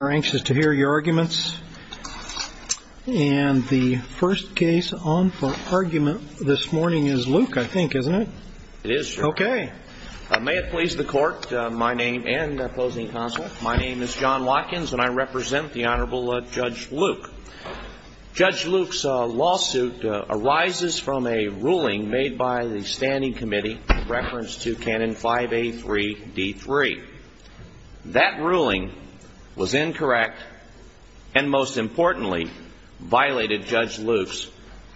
We're anxious to hear your arguments, and the first case on for argument this morning is Lueck, I think, isn't it? It is, sir. Okay. May it please the Court, my name and opposing counsel. My name is John Watkins, and I represent the Honorable Judge Lueck. Judge Lueck's lawsuit arises from a ruling made by the Standing Committee in reference to Canon 5A3-D3. That ruling was incorrect and, most importantly, violated Judge Lueck's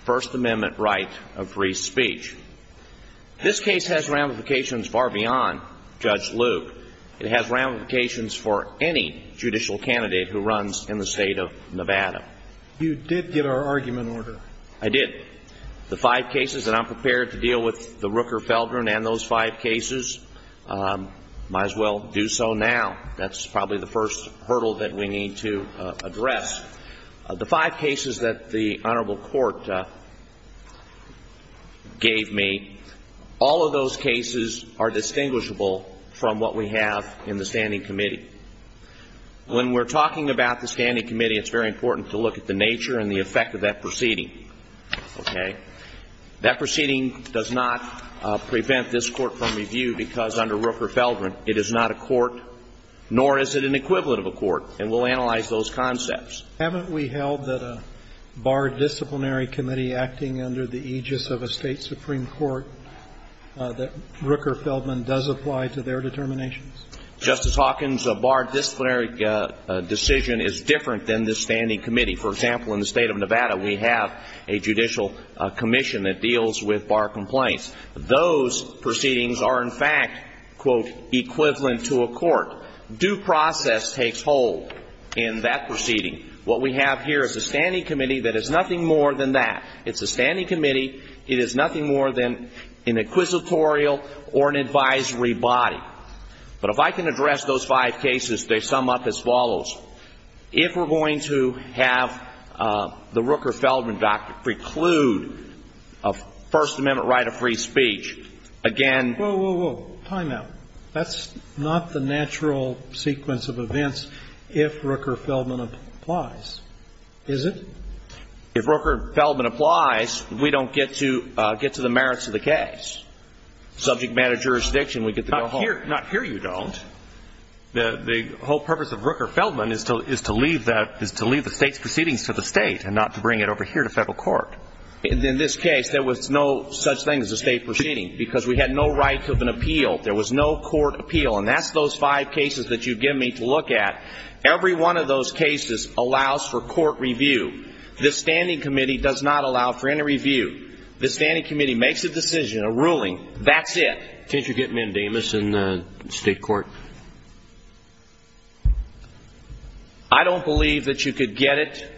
First Amendment right of free speech. This case has ramifications far beyond Judge Lueck. It has ramifications for any judicial candidate who runs in the State of Nevada. You did get our argument order. I did. The five cases, and I'm prepared to deal with the Rooker-Feldrin and those five cases. Might as well do so now. That's probably the first hurdle that we need to address. The five cases that the Honorable Court gave me, all of those cases are distinguishable from what we have in the Standing Committee. When we're talking about the Standing Committee, it's very important to look at the nature and the effect of that proceeding. Okay? That proceeding does not prevent this Court from review because, under Rooker-Feldrin, it is not a court, nor is it an equivalent of a court. And we'll analyze those concepts. Haven't we held that a barred disciplinary committee acting under the aegis of a State Supreme Court, that Rooker-Feldrin does apply to their determinations? Justice Hawkins, a barred disciplinary decision is different than this Standing Committee. For example, in the State of Nevada, we have a judicial commission that deals with bar complaints. Those proceedings are, in fact, quote, equivalent to a court. Due process takes hold in that proceeding. What we have here is a Standing Committee that is nothing more than that. It's a Standing Committee. It is nothing more than an inquisitorial or an advisory body. But if I can address those five cases, they sum up as follows. If we're going to have the Rooker-Feldrin doctrine preclude a First Amendment right of free speech, again ---- Whoa, whoa, whoa. Time out. That's not the natural sequence of events if Rooker-Feldrin applies, is it? If Rooker-Feldrin applies, we don't get to the merits of the case. Subject matter jurisdiction, we get to go home. Not here you don't. The whole purpose of Rooker-Feldrin is to leave the State's proceedings to the State and not to bring it over here to federal court. In this case, there was no such thing as a State proceeding because we had no right to have an appeal. There was no court appeal. And that's those five cases that you give me to look at. Every one of those cases allows for court review. This Standing Committee does not allow for any review. The Standing Committee makes a decision, a ruling. That's it. Didn't you get Mendemes in the State court? I don't believe that you could get it.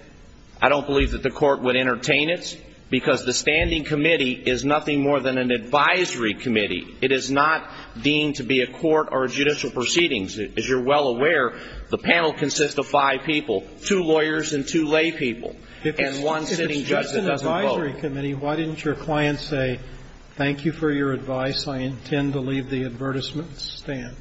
I don't believe that the court would entertain it because the Standing Committee is nothing more than an advisory committee. It is not deemed to be a court or a judicial proceedings. As you're well aware, the panel consists of five people, two lawyers and two laypeople and one sitting judge that doesn't vote. The advisory committee, why didn't your client say, thank you for your advice, I intend to leave the advertisement stand?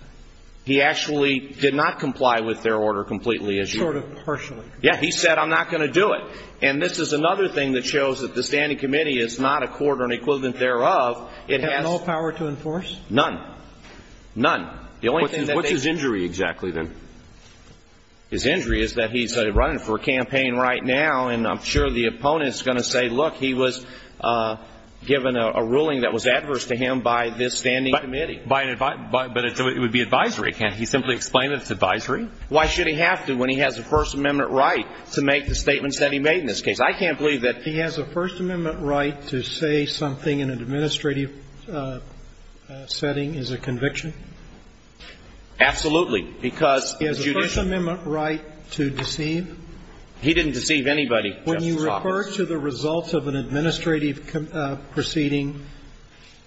He actually did not comply with their order completely. Sort of partially. Yes. He said I'm not going to do it. And this is another thing that shows that the Standing Committee is not a court or an equivalent thereof. It has no power to enforce? None. None. What's his injury exactly, then? His injury is that he's running for a campaign right now, and I'm sure the opponent is going to say, look, he was given a ruling that was adverse to him by this Standing Committee. But it would be advisory. Can't he simply explain that it's advisory? Why should he have to when he has a First Amendment right to make the statements that he made in this case? I can't believe that he has a First Amendment right to say something in an administrative setting as a conviction. Absolutely. Because the judicial. He has a First Amendment right to deceive? He didn't deceive anybody, Justice Roberts. He referred to the results of an administrative proceeding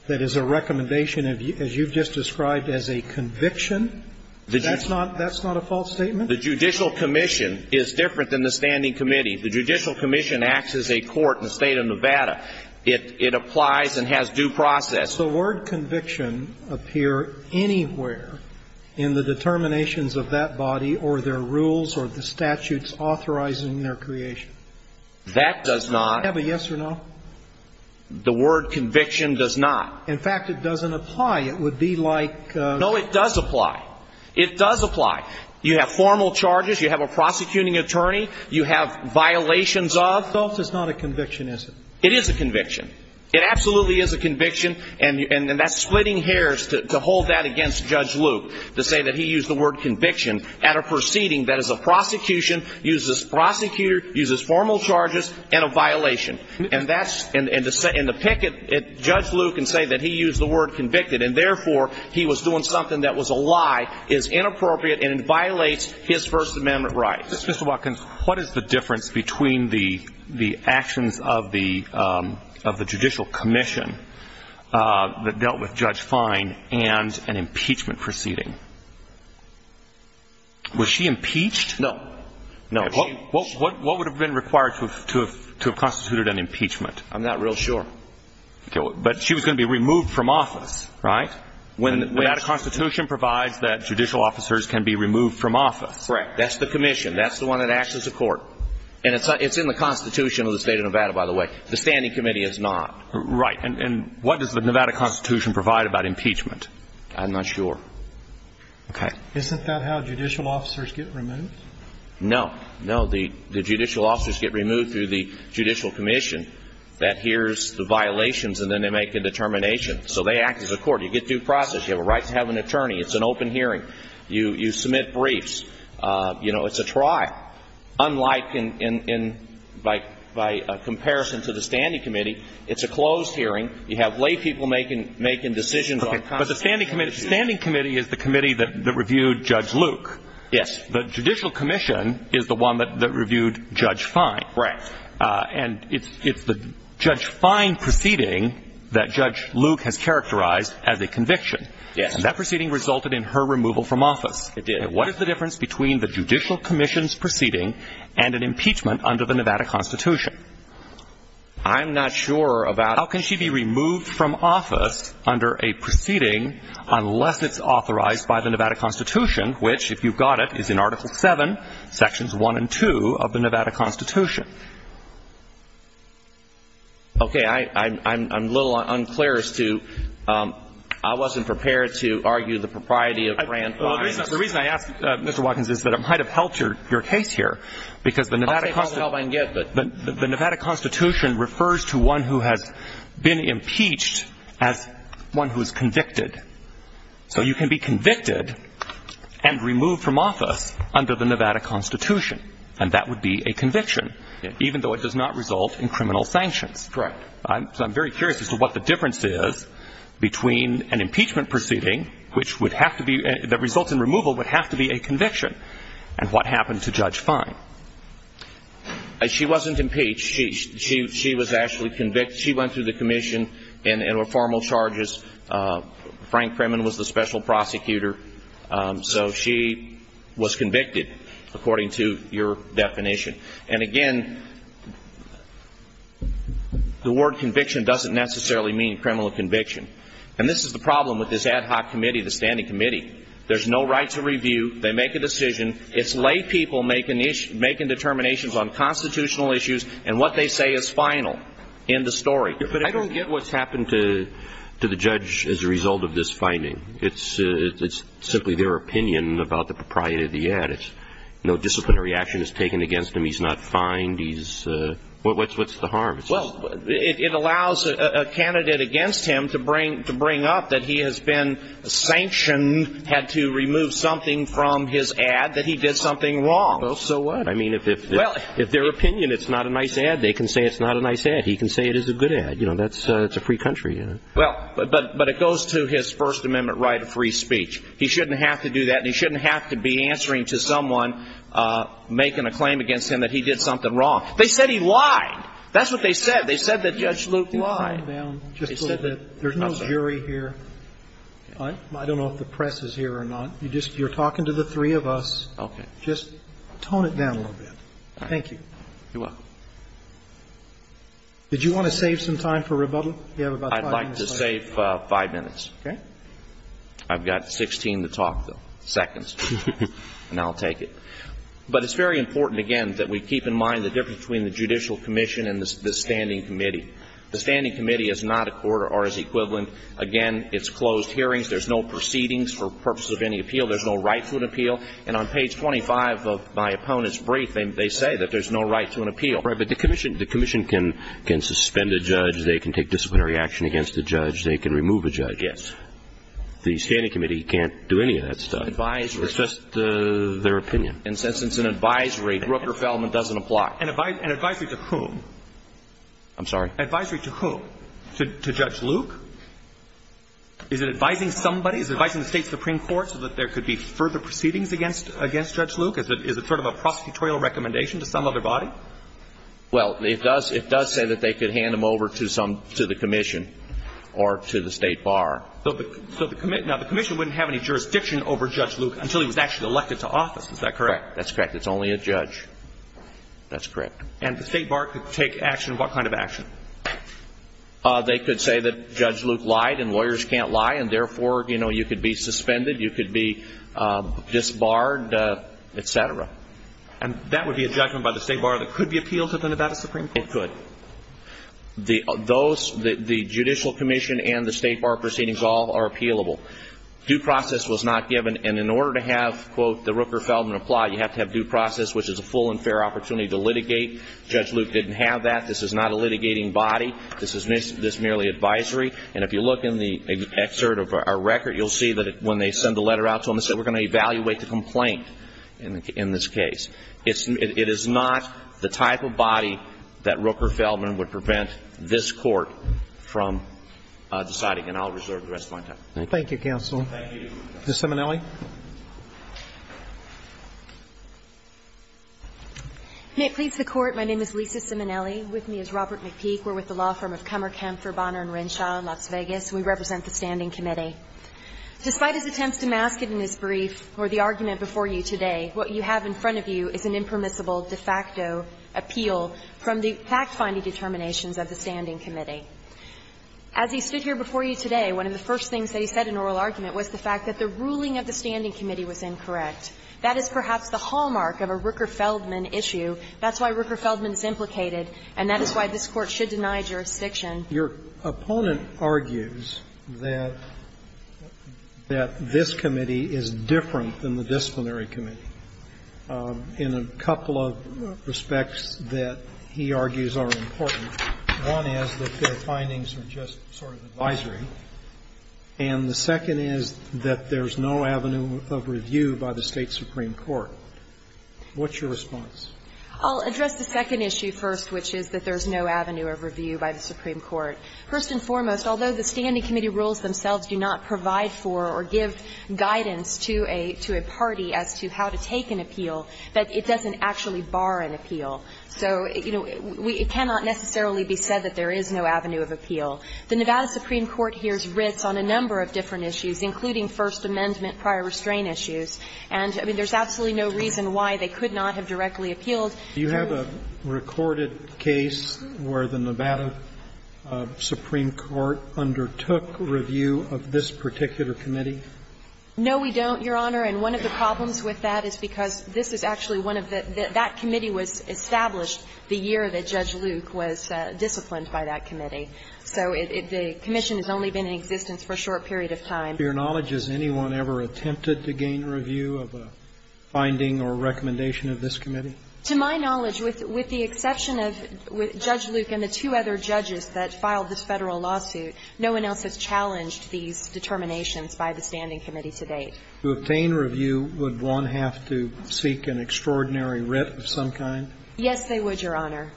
that is a recommendation of, as you've just described, as a conviction. That's not a false statement? The judicial commission is different than the Standing Committee. The judicial commission acts as a court in the State of Nevada. It applies and has due process. Does the word conviction appear anywhere in the determinations of that body or their rules or the statutes authorizing their creation? That does not. Do you have a yes or no? The word conviction does not. In fact, it doesn't apply. It would be like. No, it does apply. It does apply. You have formal charges. You have a prosecuting attorney. You have violations of. False is not a conviction, is it? It is a conviction. It absolutely is a conviction. And that's splitting hairs to hold that against Judge Luke, to say that he used the word conviction at a proceeding that is a prosecution, uses prosecutor, uses formal charges, and a violation. And that's. And to pick at Judge Luke and say that he used the word convicted and, therefore, he was doing something that was a lie is inappropriate and violates his First Amendment rights. Mr. Watkins, what is the difference between the actions of the judicial commission that dealt with Judge Fine and an impeachment proceeding? Was she impeached? No. No. What would have been required to have constituted an impeachment? I'm not real sure. But she was going to be removed from office, right? When. The Nevada Constitution provides that judicial officers can be removed from office. Correct. That's the commission. That's the one that acts as a court. And it's in the Constitution of the state of Nevada, by the way. The standing committee is not. Right. And what does the Nevada Constitution provide about impeachment? I'm not sure. Okay. Isn't that how judicial officers get removed? No. No. The judicial officers get removed through the judicial commission that hears the violations and then they make a determination. So they act as a court. You get due process. You have a right to have an attorney. It's an open hearing. You submit briefs. You know, it's a try. Unlike in, by comparison to the standing committee, it's a closed hearing. You have lay people making decisions on constitutional issues. But the standing committee is the committee that reviewed Judge Luke. Yes. The judicial commission is the one that reviewed Judge Fine. Right. And it's the Judge Fine proceeding that Judge Luke has characterized as a conviction. Yes. And that proceeding resulted in her removal from office. It did. Okay. What is the difference between the judicial commission's proceeding and an impeachment under the Nevada Constitution? I'm not sure about it. How can she be removed from office under a proceeding unless it's authorized by the Nevada Constitution, which, if you've got it, is in Article 7, Sections 1 and 2 of the Nevada Constitution? Okay. I'm a little unclear as to, I wasn't prepared to argue the propriety of Grant Fine. The reason I asked, Mr. Watkins, is that it might have helped your case here, because the Nevada Constitution. I'll take all the help I can get, but. The Nevada Constitution refers to one who has been impeached as one who is convicted. So you can be convicted and removed from office under the Nevada Constitution, and that would be a conviction, even though it does not result in criminal sanctions. Correct. So I'm very curious as to what the difference is between an impeachment proceeding, which would have to be, that results in removal, would have to be a conviction, and what happened to Judge Fine? She wasn't impeached. She was actually convicted. She went through the commission and were formal charges. Frank Kramen was the special prosecutor. So she was convicted, according to your definition. And, again, the word conviction doesn't necessarily mean criminal conviction. And this is the problem with this ad hoc committee, the standing committee. There's no right to review. They make a decision. It's lay people making determinations on constitutional issues and what they say is final in the story. But I don't get what's happened to the judge as a result of this finding. It's simply their opinion about the propriety of the ad. No disciplinary action is taken against him. He's not fined. What's the harm? Well, it allows a candidate against him to bring up that he has been sanctioned, had to remove something from his ad, that he did something wrong. Well, so what? I mean, if their opinion it's not a nice ad, they can say it's not a nice ad. He can say it is a good ad. You know, it's a free country. Well, but it goes to his First Amendment right of free speech. He shouldn't have to do that. And he shouldn't have to be answering to someone making a claim against him that he did something wrong. They said he lied. That's what they said. They said that Judge Luke lied. They said that there's no jury here. I don't know if the press is here or not. You're talking to the three of us. Okay. Just tone it down a little bit. Thank you. You're welcome. Did you want to save some time for rebuttal? You have about five minutes left. I'd like to save five minutes. Okay. I've got 16 to talk, though. Seconds. And I'll take it. But it's very important, again, that we keep in mind the difference between the judicial commission and the standing committee. The standing committee is not a court or is equivalent. Again, it's closed hearings. There's no proceedings for purposes of any appeal. There's no right to an appeal. And on page 25 of my opponent's brief, they say that there's no right to an appeal. Right. But the commission can suspend a judge. They can take disciplinary action against a judge. They can remove a judge. The standing committee can't do any of that stuff. Advisory. It's just their opinion. And since it's an advisory, Rooker-Feldman doesn't apply. An advisory to whom? I'm sorry? Advisory to whom? To Judge Luke? Is it advising somebody? Is it advising the state supreme court so that there could be further proceedings against Judge Luke? Is it sort of a prosecutorial recommendation to some other body? Well, it does say that they could hand him over to the commission or to the state bar. Now, the commission wouldn't have any jurisdiction over Judge Luke until he was actually elected to office. Is that correct? That's correct. It's only a judge. That's correct. And the state bar could take action. What kind of action? They could say that Judge Luke lied and lawyers can't lie, and therefore, you know, you could be suspended. You could be disbarred, et cetera. And that would be a judgment by the state bar that could be appealed to the Nevada supreme court? It could. The judicial commission and the state bar proceedings all are appealable. Due process was not given. And in order to have, quote, the Rooker-Feldman apply, you have to have due process, which is a full and fair opportunity to litigate. Judge Luke didn't have that. This is not a litigating body. This is merely advisory. And if you look in the excerpt of our record, you'll see that when they send the letter out to him, it says that we're going to evaluate the complaint in this case. It is not the type of body that Rooker-Feldman would prevent this Court from deciding. And I'll reserve the rest of my time. Thank you. Thank you, counsel. Ms. Simonelli. May it please the Court, my name is Lisa Simonelli. With me is Robert McPeak. We're with the law firm of Kummer, Kempfer, Bonner & Renshaw in Las Vegas, and we represent the standing committee. Despite his attempts to mask it in his brief or the argument before you today, what you have in front of you is an impermissible de facto appeal from the fact-finding determinations of the standing committee. As he stood here before you today, one of the first things that he said in oral argument was the fact that the ruling of the standing committee was incorrect. That is perhaps the hallmark of a Rooker-Feldman issue. That's why Rooker-Feldman is implicated, and that is why this Court should deny jurisdiction. Your opponent argues that this committee is different than the disciplinary committee in a couple of respects that he argues are important. One is that their findings are just sort of advisory, and the second is that there's no avenue of review by the State supreme court. What's your response? I'll address the second issue first, which is that there's no avenue of review by the supreme court. First and foremost, although the standing committee rules themselves do not provide for or give guidance to a party as to how to take an appeal, that it doesn't actually bar an appeal. So, you know, it cannot necessarily be said that there is no avenue of appeal. The Nevada supreme court hears writs on a number of different issues, including First Amendment prior restraint issues. And, I mean, there's absolutely no reason why they could not have directly appealed. Do you have a recorded case where the Nevada supreme court undertook review of this particular committee? No, we don't, Your Honor. And one of the problems with that is because this is actually one of the – that committee was established the year that Judge Luke was disciplined by that committee. So the commission has only been in existence for a short period of time. To your knowledge, has anyone ever attempted to gain review of a finding or recommendation of this committee? To my knowledge, with the exception of Judge Luke and the two other judges that filed this Federal lawsuit, no one else has challenged these determinations by the standing committee to date. To obtain review, would one have to seek an extraordinary writ of some kind? Yes, they would, Your Honor.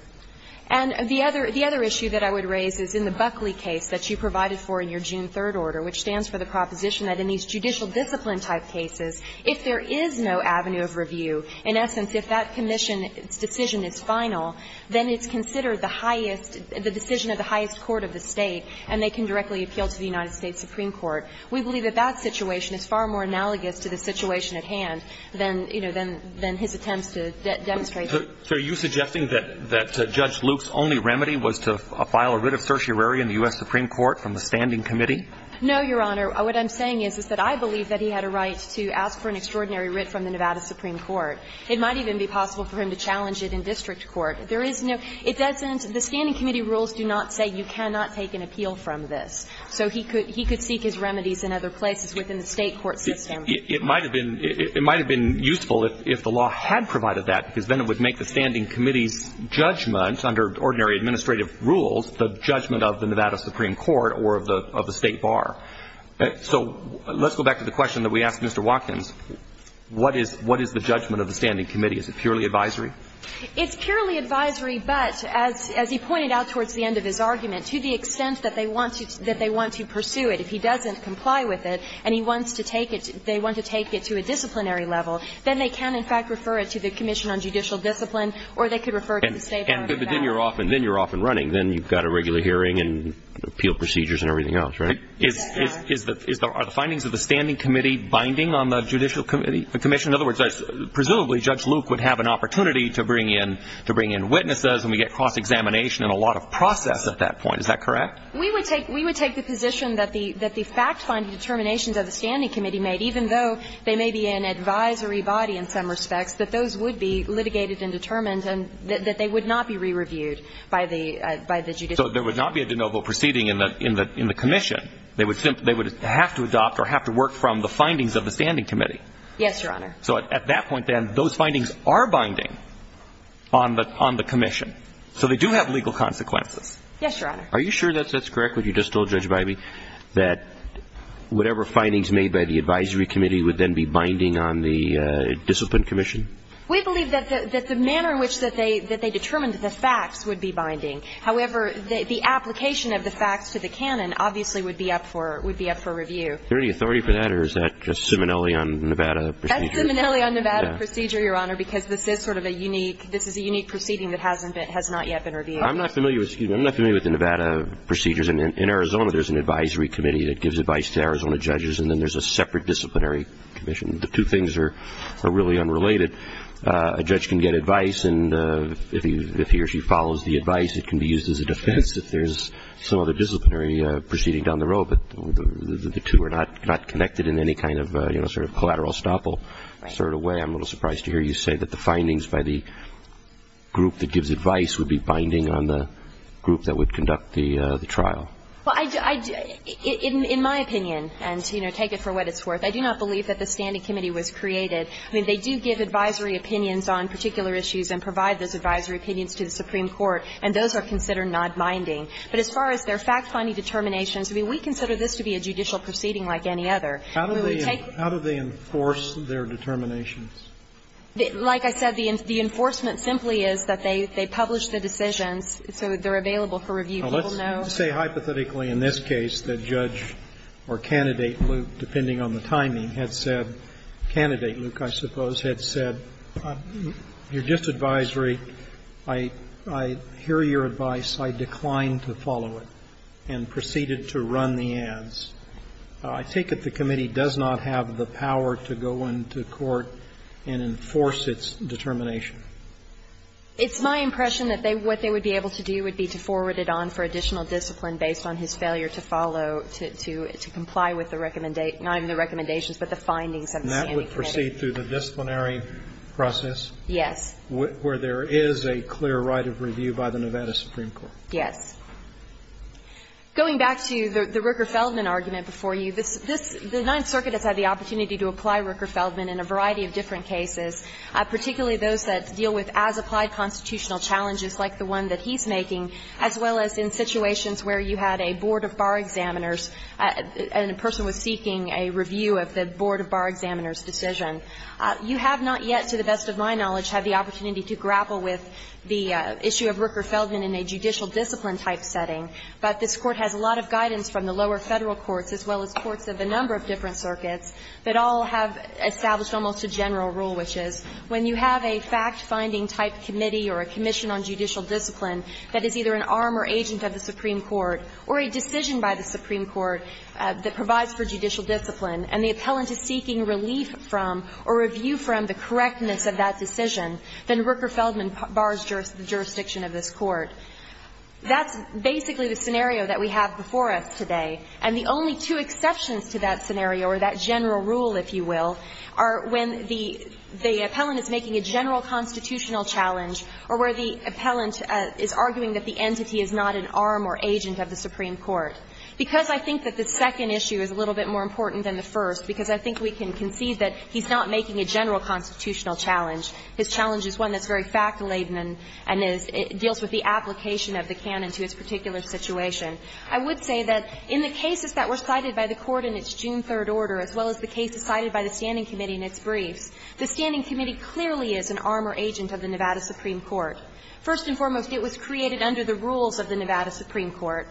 And the other issue that I would raise is in the Buckley case that you provided for in your June 3rd order, which stands for the proposition that in these judicial discipline-type cases, if there is no avenue of review, in essence, if that commission's decision is final, then it's considered the highest – the decision of the highest court of the State, and they can directly appeal to the United States supreme court. We believe that that situation is far more analogous to the situation at hand than, you know, than his attempts to demonstrate that. So are you suggesting that Judge Luke's only remedy was to file a writ of certiorari in the U.S. supreme court from the standing committee? No, Your Honor. What I'm saying is, is that I believe that he had a right to ask for an extraordinary writ from the Nevada supreme court. It might even be possible for him to challenge it in district court. There is no – it doesn't – the standing committee rules do not say you cannot take an appeal from this. So he could – he could seek his remedies in other places within the State court system. It might have been – it might have been useful if the law had provided that, because then it would make the standing committee's judgments under ordinary administrative rules the judgment of the Nevada supreme court or of the State bar. So let's go back to the question that we asked Mr. Watkins. What is – what is the judgment of the standing committee? Is it purely advisory? It's purely advisory, but as he pointed out towards the end of his argument, to the extent that they want to – that they want to pursue it, if he doesn't comply with it and he wants to take it – they want to take it to a disciplinary level, then they can, in fact, refer it to the Commission on Judicial Discipline or they could refer it to the State bar. And then you're off – then you're off and running. Then you've got a regular hearing and appeal procedures and everything else, right? Yes, Your Honor. Is the – are the findings of the standing committee binding on the judicial committee? The commission – in other words, presumably Judge Luke would have an opportunity to bring in – to bring in witnesses and we get cross-examination and a lot of process at that point. Is that correct? We would take – we would take the position that the – that the fact-finding determinations of the standing committee made, even though they may be an advisory body in some respects, that those would be litigated and determined and that they would not be re-reviewed by the – by the judicial committee. So there would not be a de novo proceeding in the – in the commission. They would – they would have to adopt or have to work from the findings of the standing committee. Yes, Your Honor. So at that point, then, those findings are binding on the – on the commission. So they do have legal consequences. Yes, Your Honor. Are you sure that that's correct, what you just told Judge Bybee, that whatever findings made by the advisory committee would then be binding on the discipline commission? We believe that the – that the manner in which that they – that they determined the facts would be binding. However, the application of the facts to the canon obviously would be up for – would be up for review. Is there any authority for that, or is that just Simonelli on Nevada procedure? That's Simonelli on Nevada procedure, Your Honor, because this is sort of a unique – this is a unique proceeding that hasn't been – has not yet been reviewed. I'm not familiar with – excuse me. I'm not familiar with the Nevada procedures. In Arizona, there's an advisory committee that gives advice to Arizona judges, and then there's a separate disciplinary commission. The two things are – are really unrelated. A judge can get advice, and if he or she follows the advice, it can be used as a defense if there's some other disciplinary proceeding down the road. But the two are not – not connected in any kind of, you know, sort of collateral estoppel sort of way. I'm a little surprised to hear you say that the findings by the group that gives advice would be binding on the group that would conduct the trial. Well, I – in my opinion, and, you know, take it for what it's worth, I do not believe that the standing committee was created. I mean, they do give advisory opinions on particular issues and provide those advisory opinions to the Supreme Court, and those are considered not binding. But as far as their fact-finding determinations, I mean, we consider this to be a judicial proceeding like any other. We would take them. How do they enforce their determinations? Like I said, the enforcement simply is that they publish the decisions, so they're available for review. People know. Now, let's say hypothetically in this case that Judge or Candidate Luke, depending on the timing, had said – Candidate Luke, I suppose, had said, you're just advisory. I hear your advice. I decline to follow it, and proceeded to run the ads. I take it the committee does not have the power to go into court and enforce its determination. It's my impression that they – what they would be able to do would be to forward it on for additional discipline based on his failure to follow – to comply with the – not even the recommendations, but the findings of the standing committee. And that would proceed through the disciplinary process? Yes. Where there is a clear right of review by the Nevada Supreme Court? Yes. Going back to the Rooker-Feldman argument before you, this – the Ninth Circuit has had the opportunity to apply Rooker-Feldman in a variety of different cases, particularly those that deal with as-applied constitutional challenges like the one that he's making, as well as in situations where you had a board of bar examiners and a person was seeking a review of the board of bar examiners' decision. You have not yet, to the best of my knowledge, had the opportunity to grapple with the issue of Rooker-Feldman in a judicial discipline type setting. But this Court has a lot of guidance from the lower Federal courts as well as courts of a number of different circuits that all have established almost a general rule, which is when you have a fact-finding type committee or a commission on judicial discipline that is either an arm or agent of the Supreme Court or a decision by the Supreme Court that provides for judicial discipline and the appellant is seeking relief from or review from the correctness of that decision, then Rooker-Feldman bars the jurisdiction of this Court. That's basically the scenario that we have before us today. And the only two exceptions to that scenario, or that general rule, if you will, are when the appellant is making a general constitutional challenge or where the appellant is arguing that the entity is not an arm or agent of the Supreme Court. Because I think that the second issue is a little bit more important than the first, because I think we can concede that he's not making a general constitutional challenge, his challenge is one that's very fact-laden and deals with the application of the canon to his particular situation, I would say that in the cases that were cited by the Court in its June 3rd order as well as the cases cited by the standing committee in its briefs, the standing committee clearly is an arm or agent of the Nevada Supreme Court. First and foremost, it was created under the rules of the Nevada Supreme Court.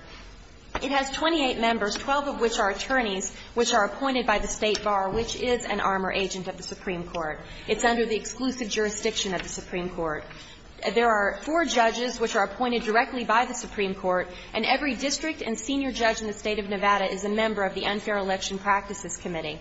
It has 28 members, 12 of which are attorneys, which are appointed by the State Bar, which is an arm or agent of the Supreme Court. It's under the exclusive jurisdiction of the Supreme Court. There are four judges which are appointed directly by the Supreme Court, and every district and senior judge in the State of Nevada is a member of the Unfair Election Practices Committee.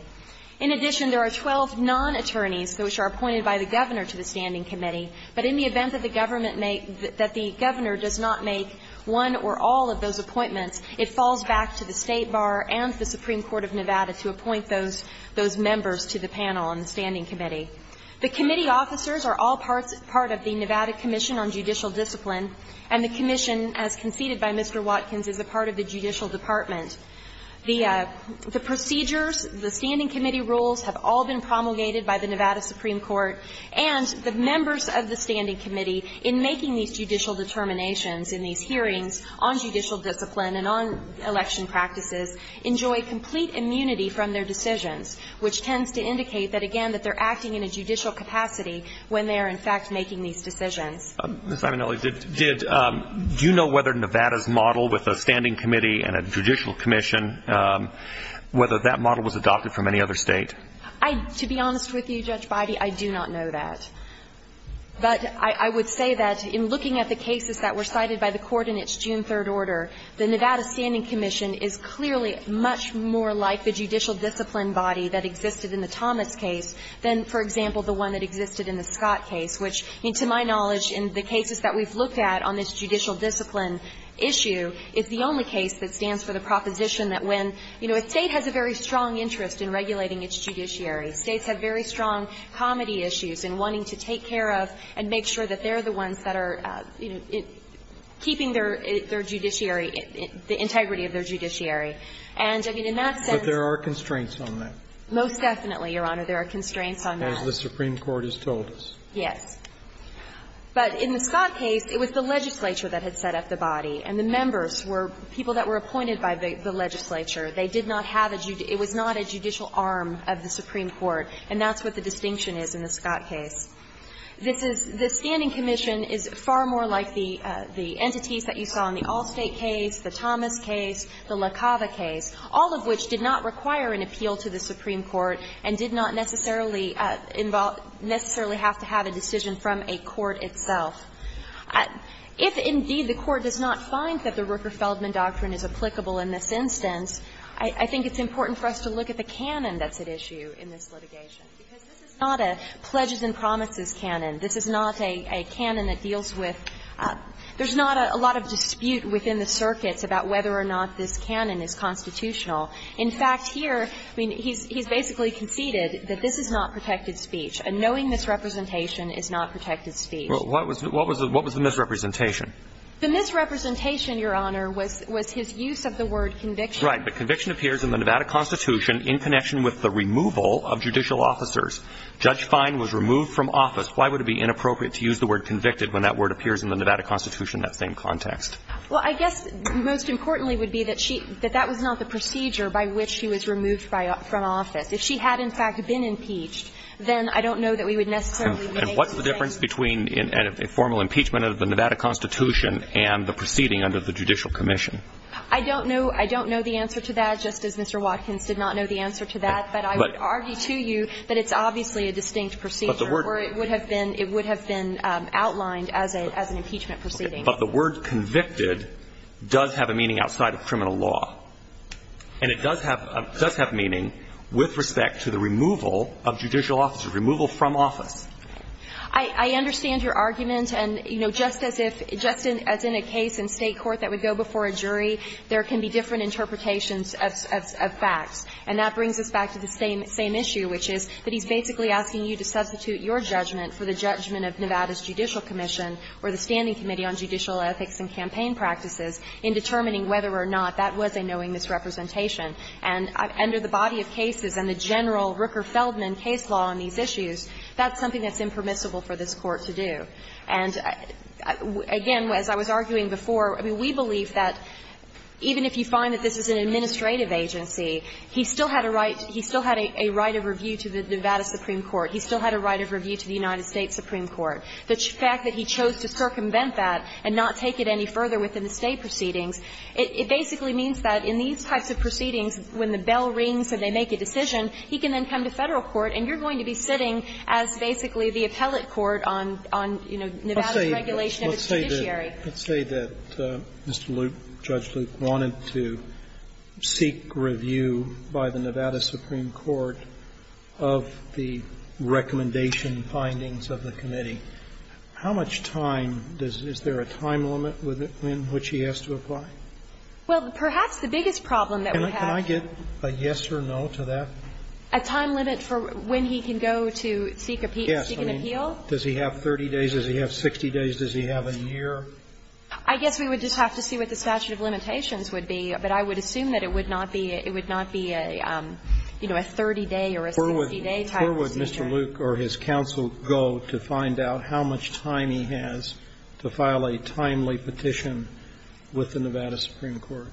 In addition, there are 12 non-attorneys which are appointed by the governor to the governor does not make one or all of those appointments, it falls back to the State Bar and the Supreme Court of Nevada to appoint those members to the panel on the standing committee. The committee officers are all part of the Nevada Commission on Judicial Discipline, and the commission, as conceded by Mr. Watkins, is a part of the judicial department. The procedures, the standing committee rules have all been promulgated by the Nevada Supreme Court, and the members of the standing committee, in making these judicial determinations in these hearings on judicial discipline and on election practices, enjoy complete immunity from their decisions, which tends to indicate that, again, that they're acting in a judicial capacity when they are, in fact, making these decisions. Mr. Imanelli, do you know whether Nevada's model with a standing committee and a judicial commission, whether that model was adopted from any other state? To be honest with you, Judge Bidey, I do not know that. But I would say that in looking at the cases that were cited by the Court in its June 3rd order, the Nevada standing commission is clearly much more like the judicial discipline body that existed in the Thomas case than, for example, the one that existed in the Scott case, which, to my knowledge, in the cases that we've looked at on this judicial discipline issue, it's the only case that stands for the proposition that when, you know, a state has a very strong interest in regulating its judiciary, states have very strong comity issues in wanting to take care of and make sure that they're the ones that are, you know, keeping their judiciary, the integrity of their judiciary. And, I mean, in that sense there are constraints on that. Most definitely, Your Honor. There are constraints on that. As the Supreme Court has told us. Yes. But in the Scott case, it was the legislature that had set up the body, and the members were people that were appointed by the legislature. They did not have a judge. It was not a judicial arm of the Supreme Court, and that's what the distinction is in the Scott case. This is the standing commission is far more like the entities that you saw in the Allstate case, the Thomas case, the LaCava case, all of which did not require an appeal to the Supreme Court and did not necessarily involve – necessarily have to have a decision from a court itself. If, indeed, the Court does not find that the Rooker-Feldman doctrine is applicable in this instance, I think it's important for us to look at the canon that's at issue in this litigation, because this is not a pledges and promises canon. This is not a canon that deals with – there's not a lot of dispute within the circuits about whether or not this canon is constitutional. In fact, here, I mean, he's basically conceded that this is not protected speech. Knowing this representation is not protected speech. What was the misrepresentation? The misrepresentation, Your Honor, was his use of the word conviction. Right. But conviction appears in the Nevada Constitution in connection with the removal of judicial officers. Judge Fine was removed from office. Why would it be inappropriate to use the word convicted when that word appears in the Nevada Constitution in that same context? Well, I guess most importantly would be that she – that that was not the procedure by which she was removed from office. If she had, in fact, been impeached, then I don't know that we would necessarily make the distinction. And what's the difference between a formal impeachment of the Nevada Constitution and the proceeding under the Judicial Commission? I don't know. I don't know the answer to that, just as Mr. Watkins did not know the answer to that. But I would argue to you that it's obviously a distinct procedure. But the word – Or it would have been – it would have been outlined as an impeachment proceeding. But the word convicted does have a meaning outside of criminal law. And it does have – does have meaning with respect to the removal of judicial officer, removal from office. I understand your argument. And, you know, just as if – just as in a case in State court that would go before a jury, there can be different interpretations of facts. And that brings us back to the same issue, which is that he's basically asking you to substitute your judgment for the judgment of Nevada's Judicial Commission or the Standing Committee on Judicial Ethics and Campaign Practices in determining whether or not that was a knowing misrepresentation. And under the body of cases and the general Rooker-Feldman case law on these issues, that's something that's impermissible for this Court to do. And, again, as I was arguing before, I mean, we believe that even if you find that this is an administrative agency, he still had a right – he still had a right of review to the Nevada Supreme Court. He still had a right of review to the United States Supreme Court. The fact that he chose to circumvent that and not take it any further within the State proceedings, it basically means that in these types of proceedings, when the bell rings and they make a decision, he can then come to Federal court and you're going to be sitting as basically the appellate court on, you know, Nevada's regulation of its judiciary. Sotomayor, let's say that Mr. Luke, Judge Luke, wanted to seek review by the Nevada Supreme Court of the recommendation findings of the committee. How much time does – is there a time limit in which he has to apply? Well, perhaps the biggest problem that we have – Can I get a yes or no to that? A time limit for when he can go to seek a – seek an appeal? Yes. I mean, does he have 30 days? Does he have 60 days? Does he have a year? I guess we would just have to see what the statute of limitations would be, but I would assume that it would not be a, you know, a 30-day or a 60-day type of procedure. Where would Mr. Luke or his counsel go to find out how much time he has to file a timely petition with the Nevada Supreme Court?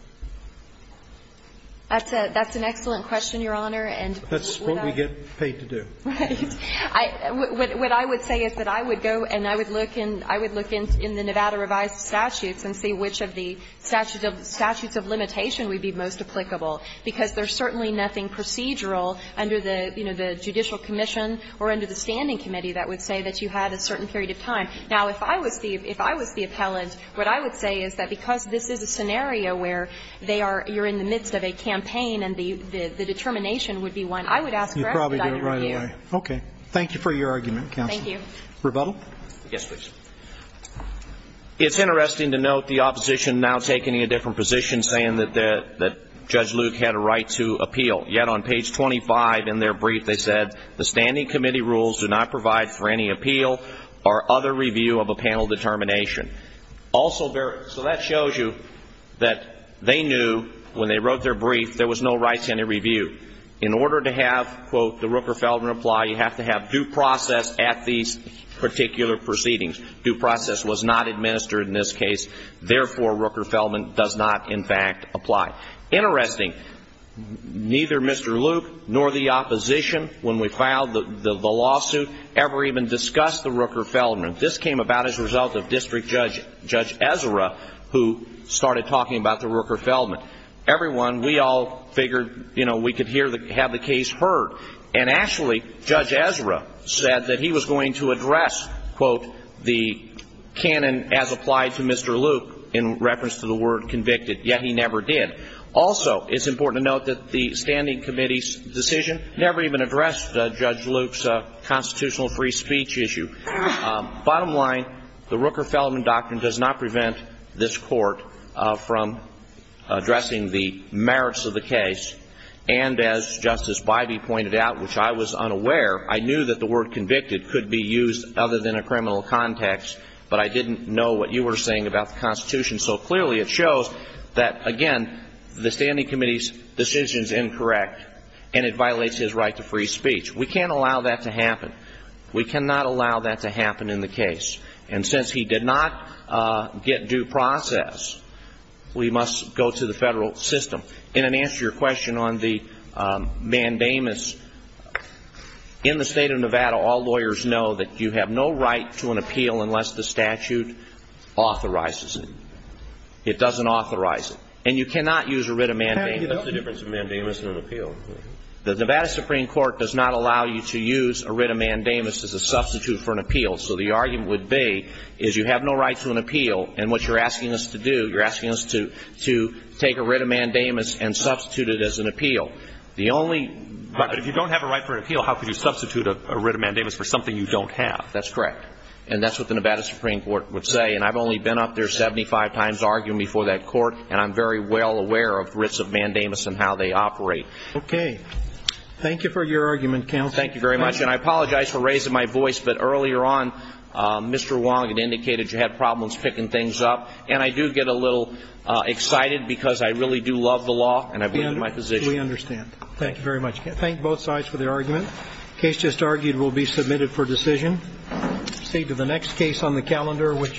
That's a – that's an excellent question, Your Honor. And without – That's what we get paid to do. Right. What I would say is that I would go and I would look in – I would look in the Nevada revised statutes and see which of the statutes of limitation would be most applicable, because there's certainly nothing procedural under the, you know, the Judicial Commission or under the Standing Committee that would say that you had a certain period of time. Now, if I was the – if I was the appellant, what I would say is that because this is a scenario where they are – you're in the midst of a campaign and the determination would be one, I would ask for a timely review. You'd probably do it right away. Okay. Thank you for your argument, counsel. Thank you. Yes, please. It's interesting to note the opposition now taking a different position, saying that Judge Luke had a right to appeal. Yet on page 25 in their brief they said, The Standing Committee rules do not provide for any appeal or other review of a panel determination. Also – so that shows you that they knew when they wrote their brief there was no right to any review. In order to have, quote, the Rooker-Feldman reply, you have to have due process at these particular proceedings. Due process was not administered in this case. Therefore, Rooker-Feldman does not, in fact, apply. Interesting. Neither Mr. Luke nor the opposition, when we filed the lawsuit, ever even discussed the Rooker-Feldman. This came about as a result of District Judge Ezra, who started talking about the Rooker-Feldman. Everyone – we all figured, you know, we could hear the – have the case heard. And actually, Judge Ezra said that he was going to address, quote, the canon as applied to Mr. Luke in reference to the word convicted, yet he never did. Also, it's important to note that the Standing Committee's decision never even addressed Judge Luke's constitutional free speech issue. Bottom line, the Rooker-Feldman doctrine does not prevent this Court from addressing the merits of the case. And as Justice Bybee pointed out, which I was unaware, I knew that the word convicted could be used other than a criminal context, but I didn't know what you were saying about the Constitution. So clearly, it shows that, again, the Standing Committee's decision is incorrect, and it violates his right to free speech. We can't allow that to happen. We cannot allow that to happen in the case. And since he did not get due process, we must go to the federal system. And in answer to your question on the mandamus, in the state of Nevada, all lawyers know that you have no right to an appeal unless the statute authorizes it. It doesn't authorize it. And you cannot use a writ of mandamus. What's the difference between a mandamus and an appeal? The Nevada Supreme Court does not allow you to use a writ of mandamus as a substitute for an appeal. So the argument would be is you have no right to an appeal, and what you're asking us to do is to take a writ of mandamus and substitute it as an appeal. The only – Right. But if you don't have a right for an appeal, how could you substitute a writ of mandamus for something you don't have? That's correct. And that's what the Nevada Supreme Court would say. And I've only been up there 75 times arguing before that court, and I'm very well aware of writs of mandamus and how they operate. Okay. Thank you for your argument, counsel. Thank you very much. And I apologize for raising my voice, but earlier on, Mr. Wong had indicated you had problems picking things up. And I do get a little excited because I really do love the law, and I believe in my position. We understand. Thank you very much. Thank both sides for their argument. The case just argued will be submitted for decision. We'll proceed to the next case on the calendar, which is –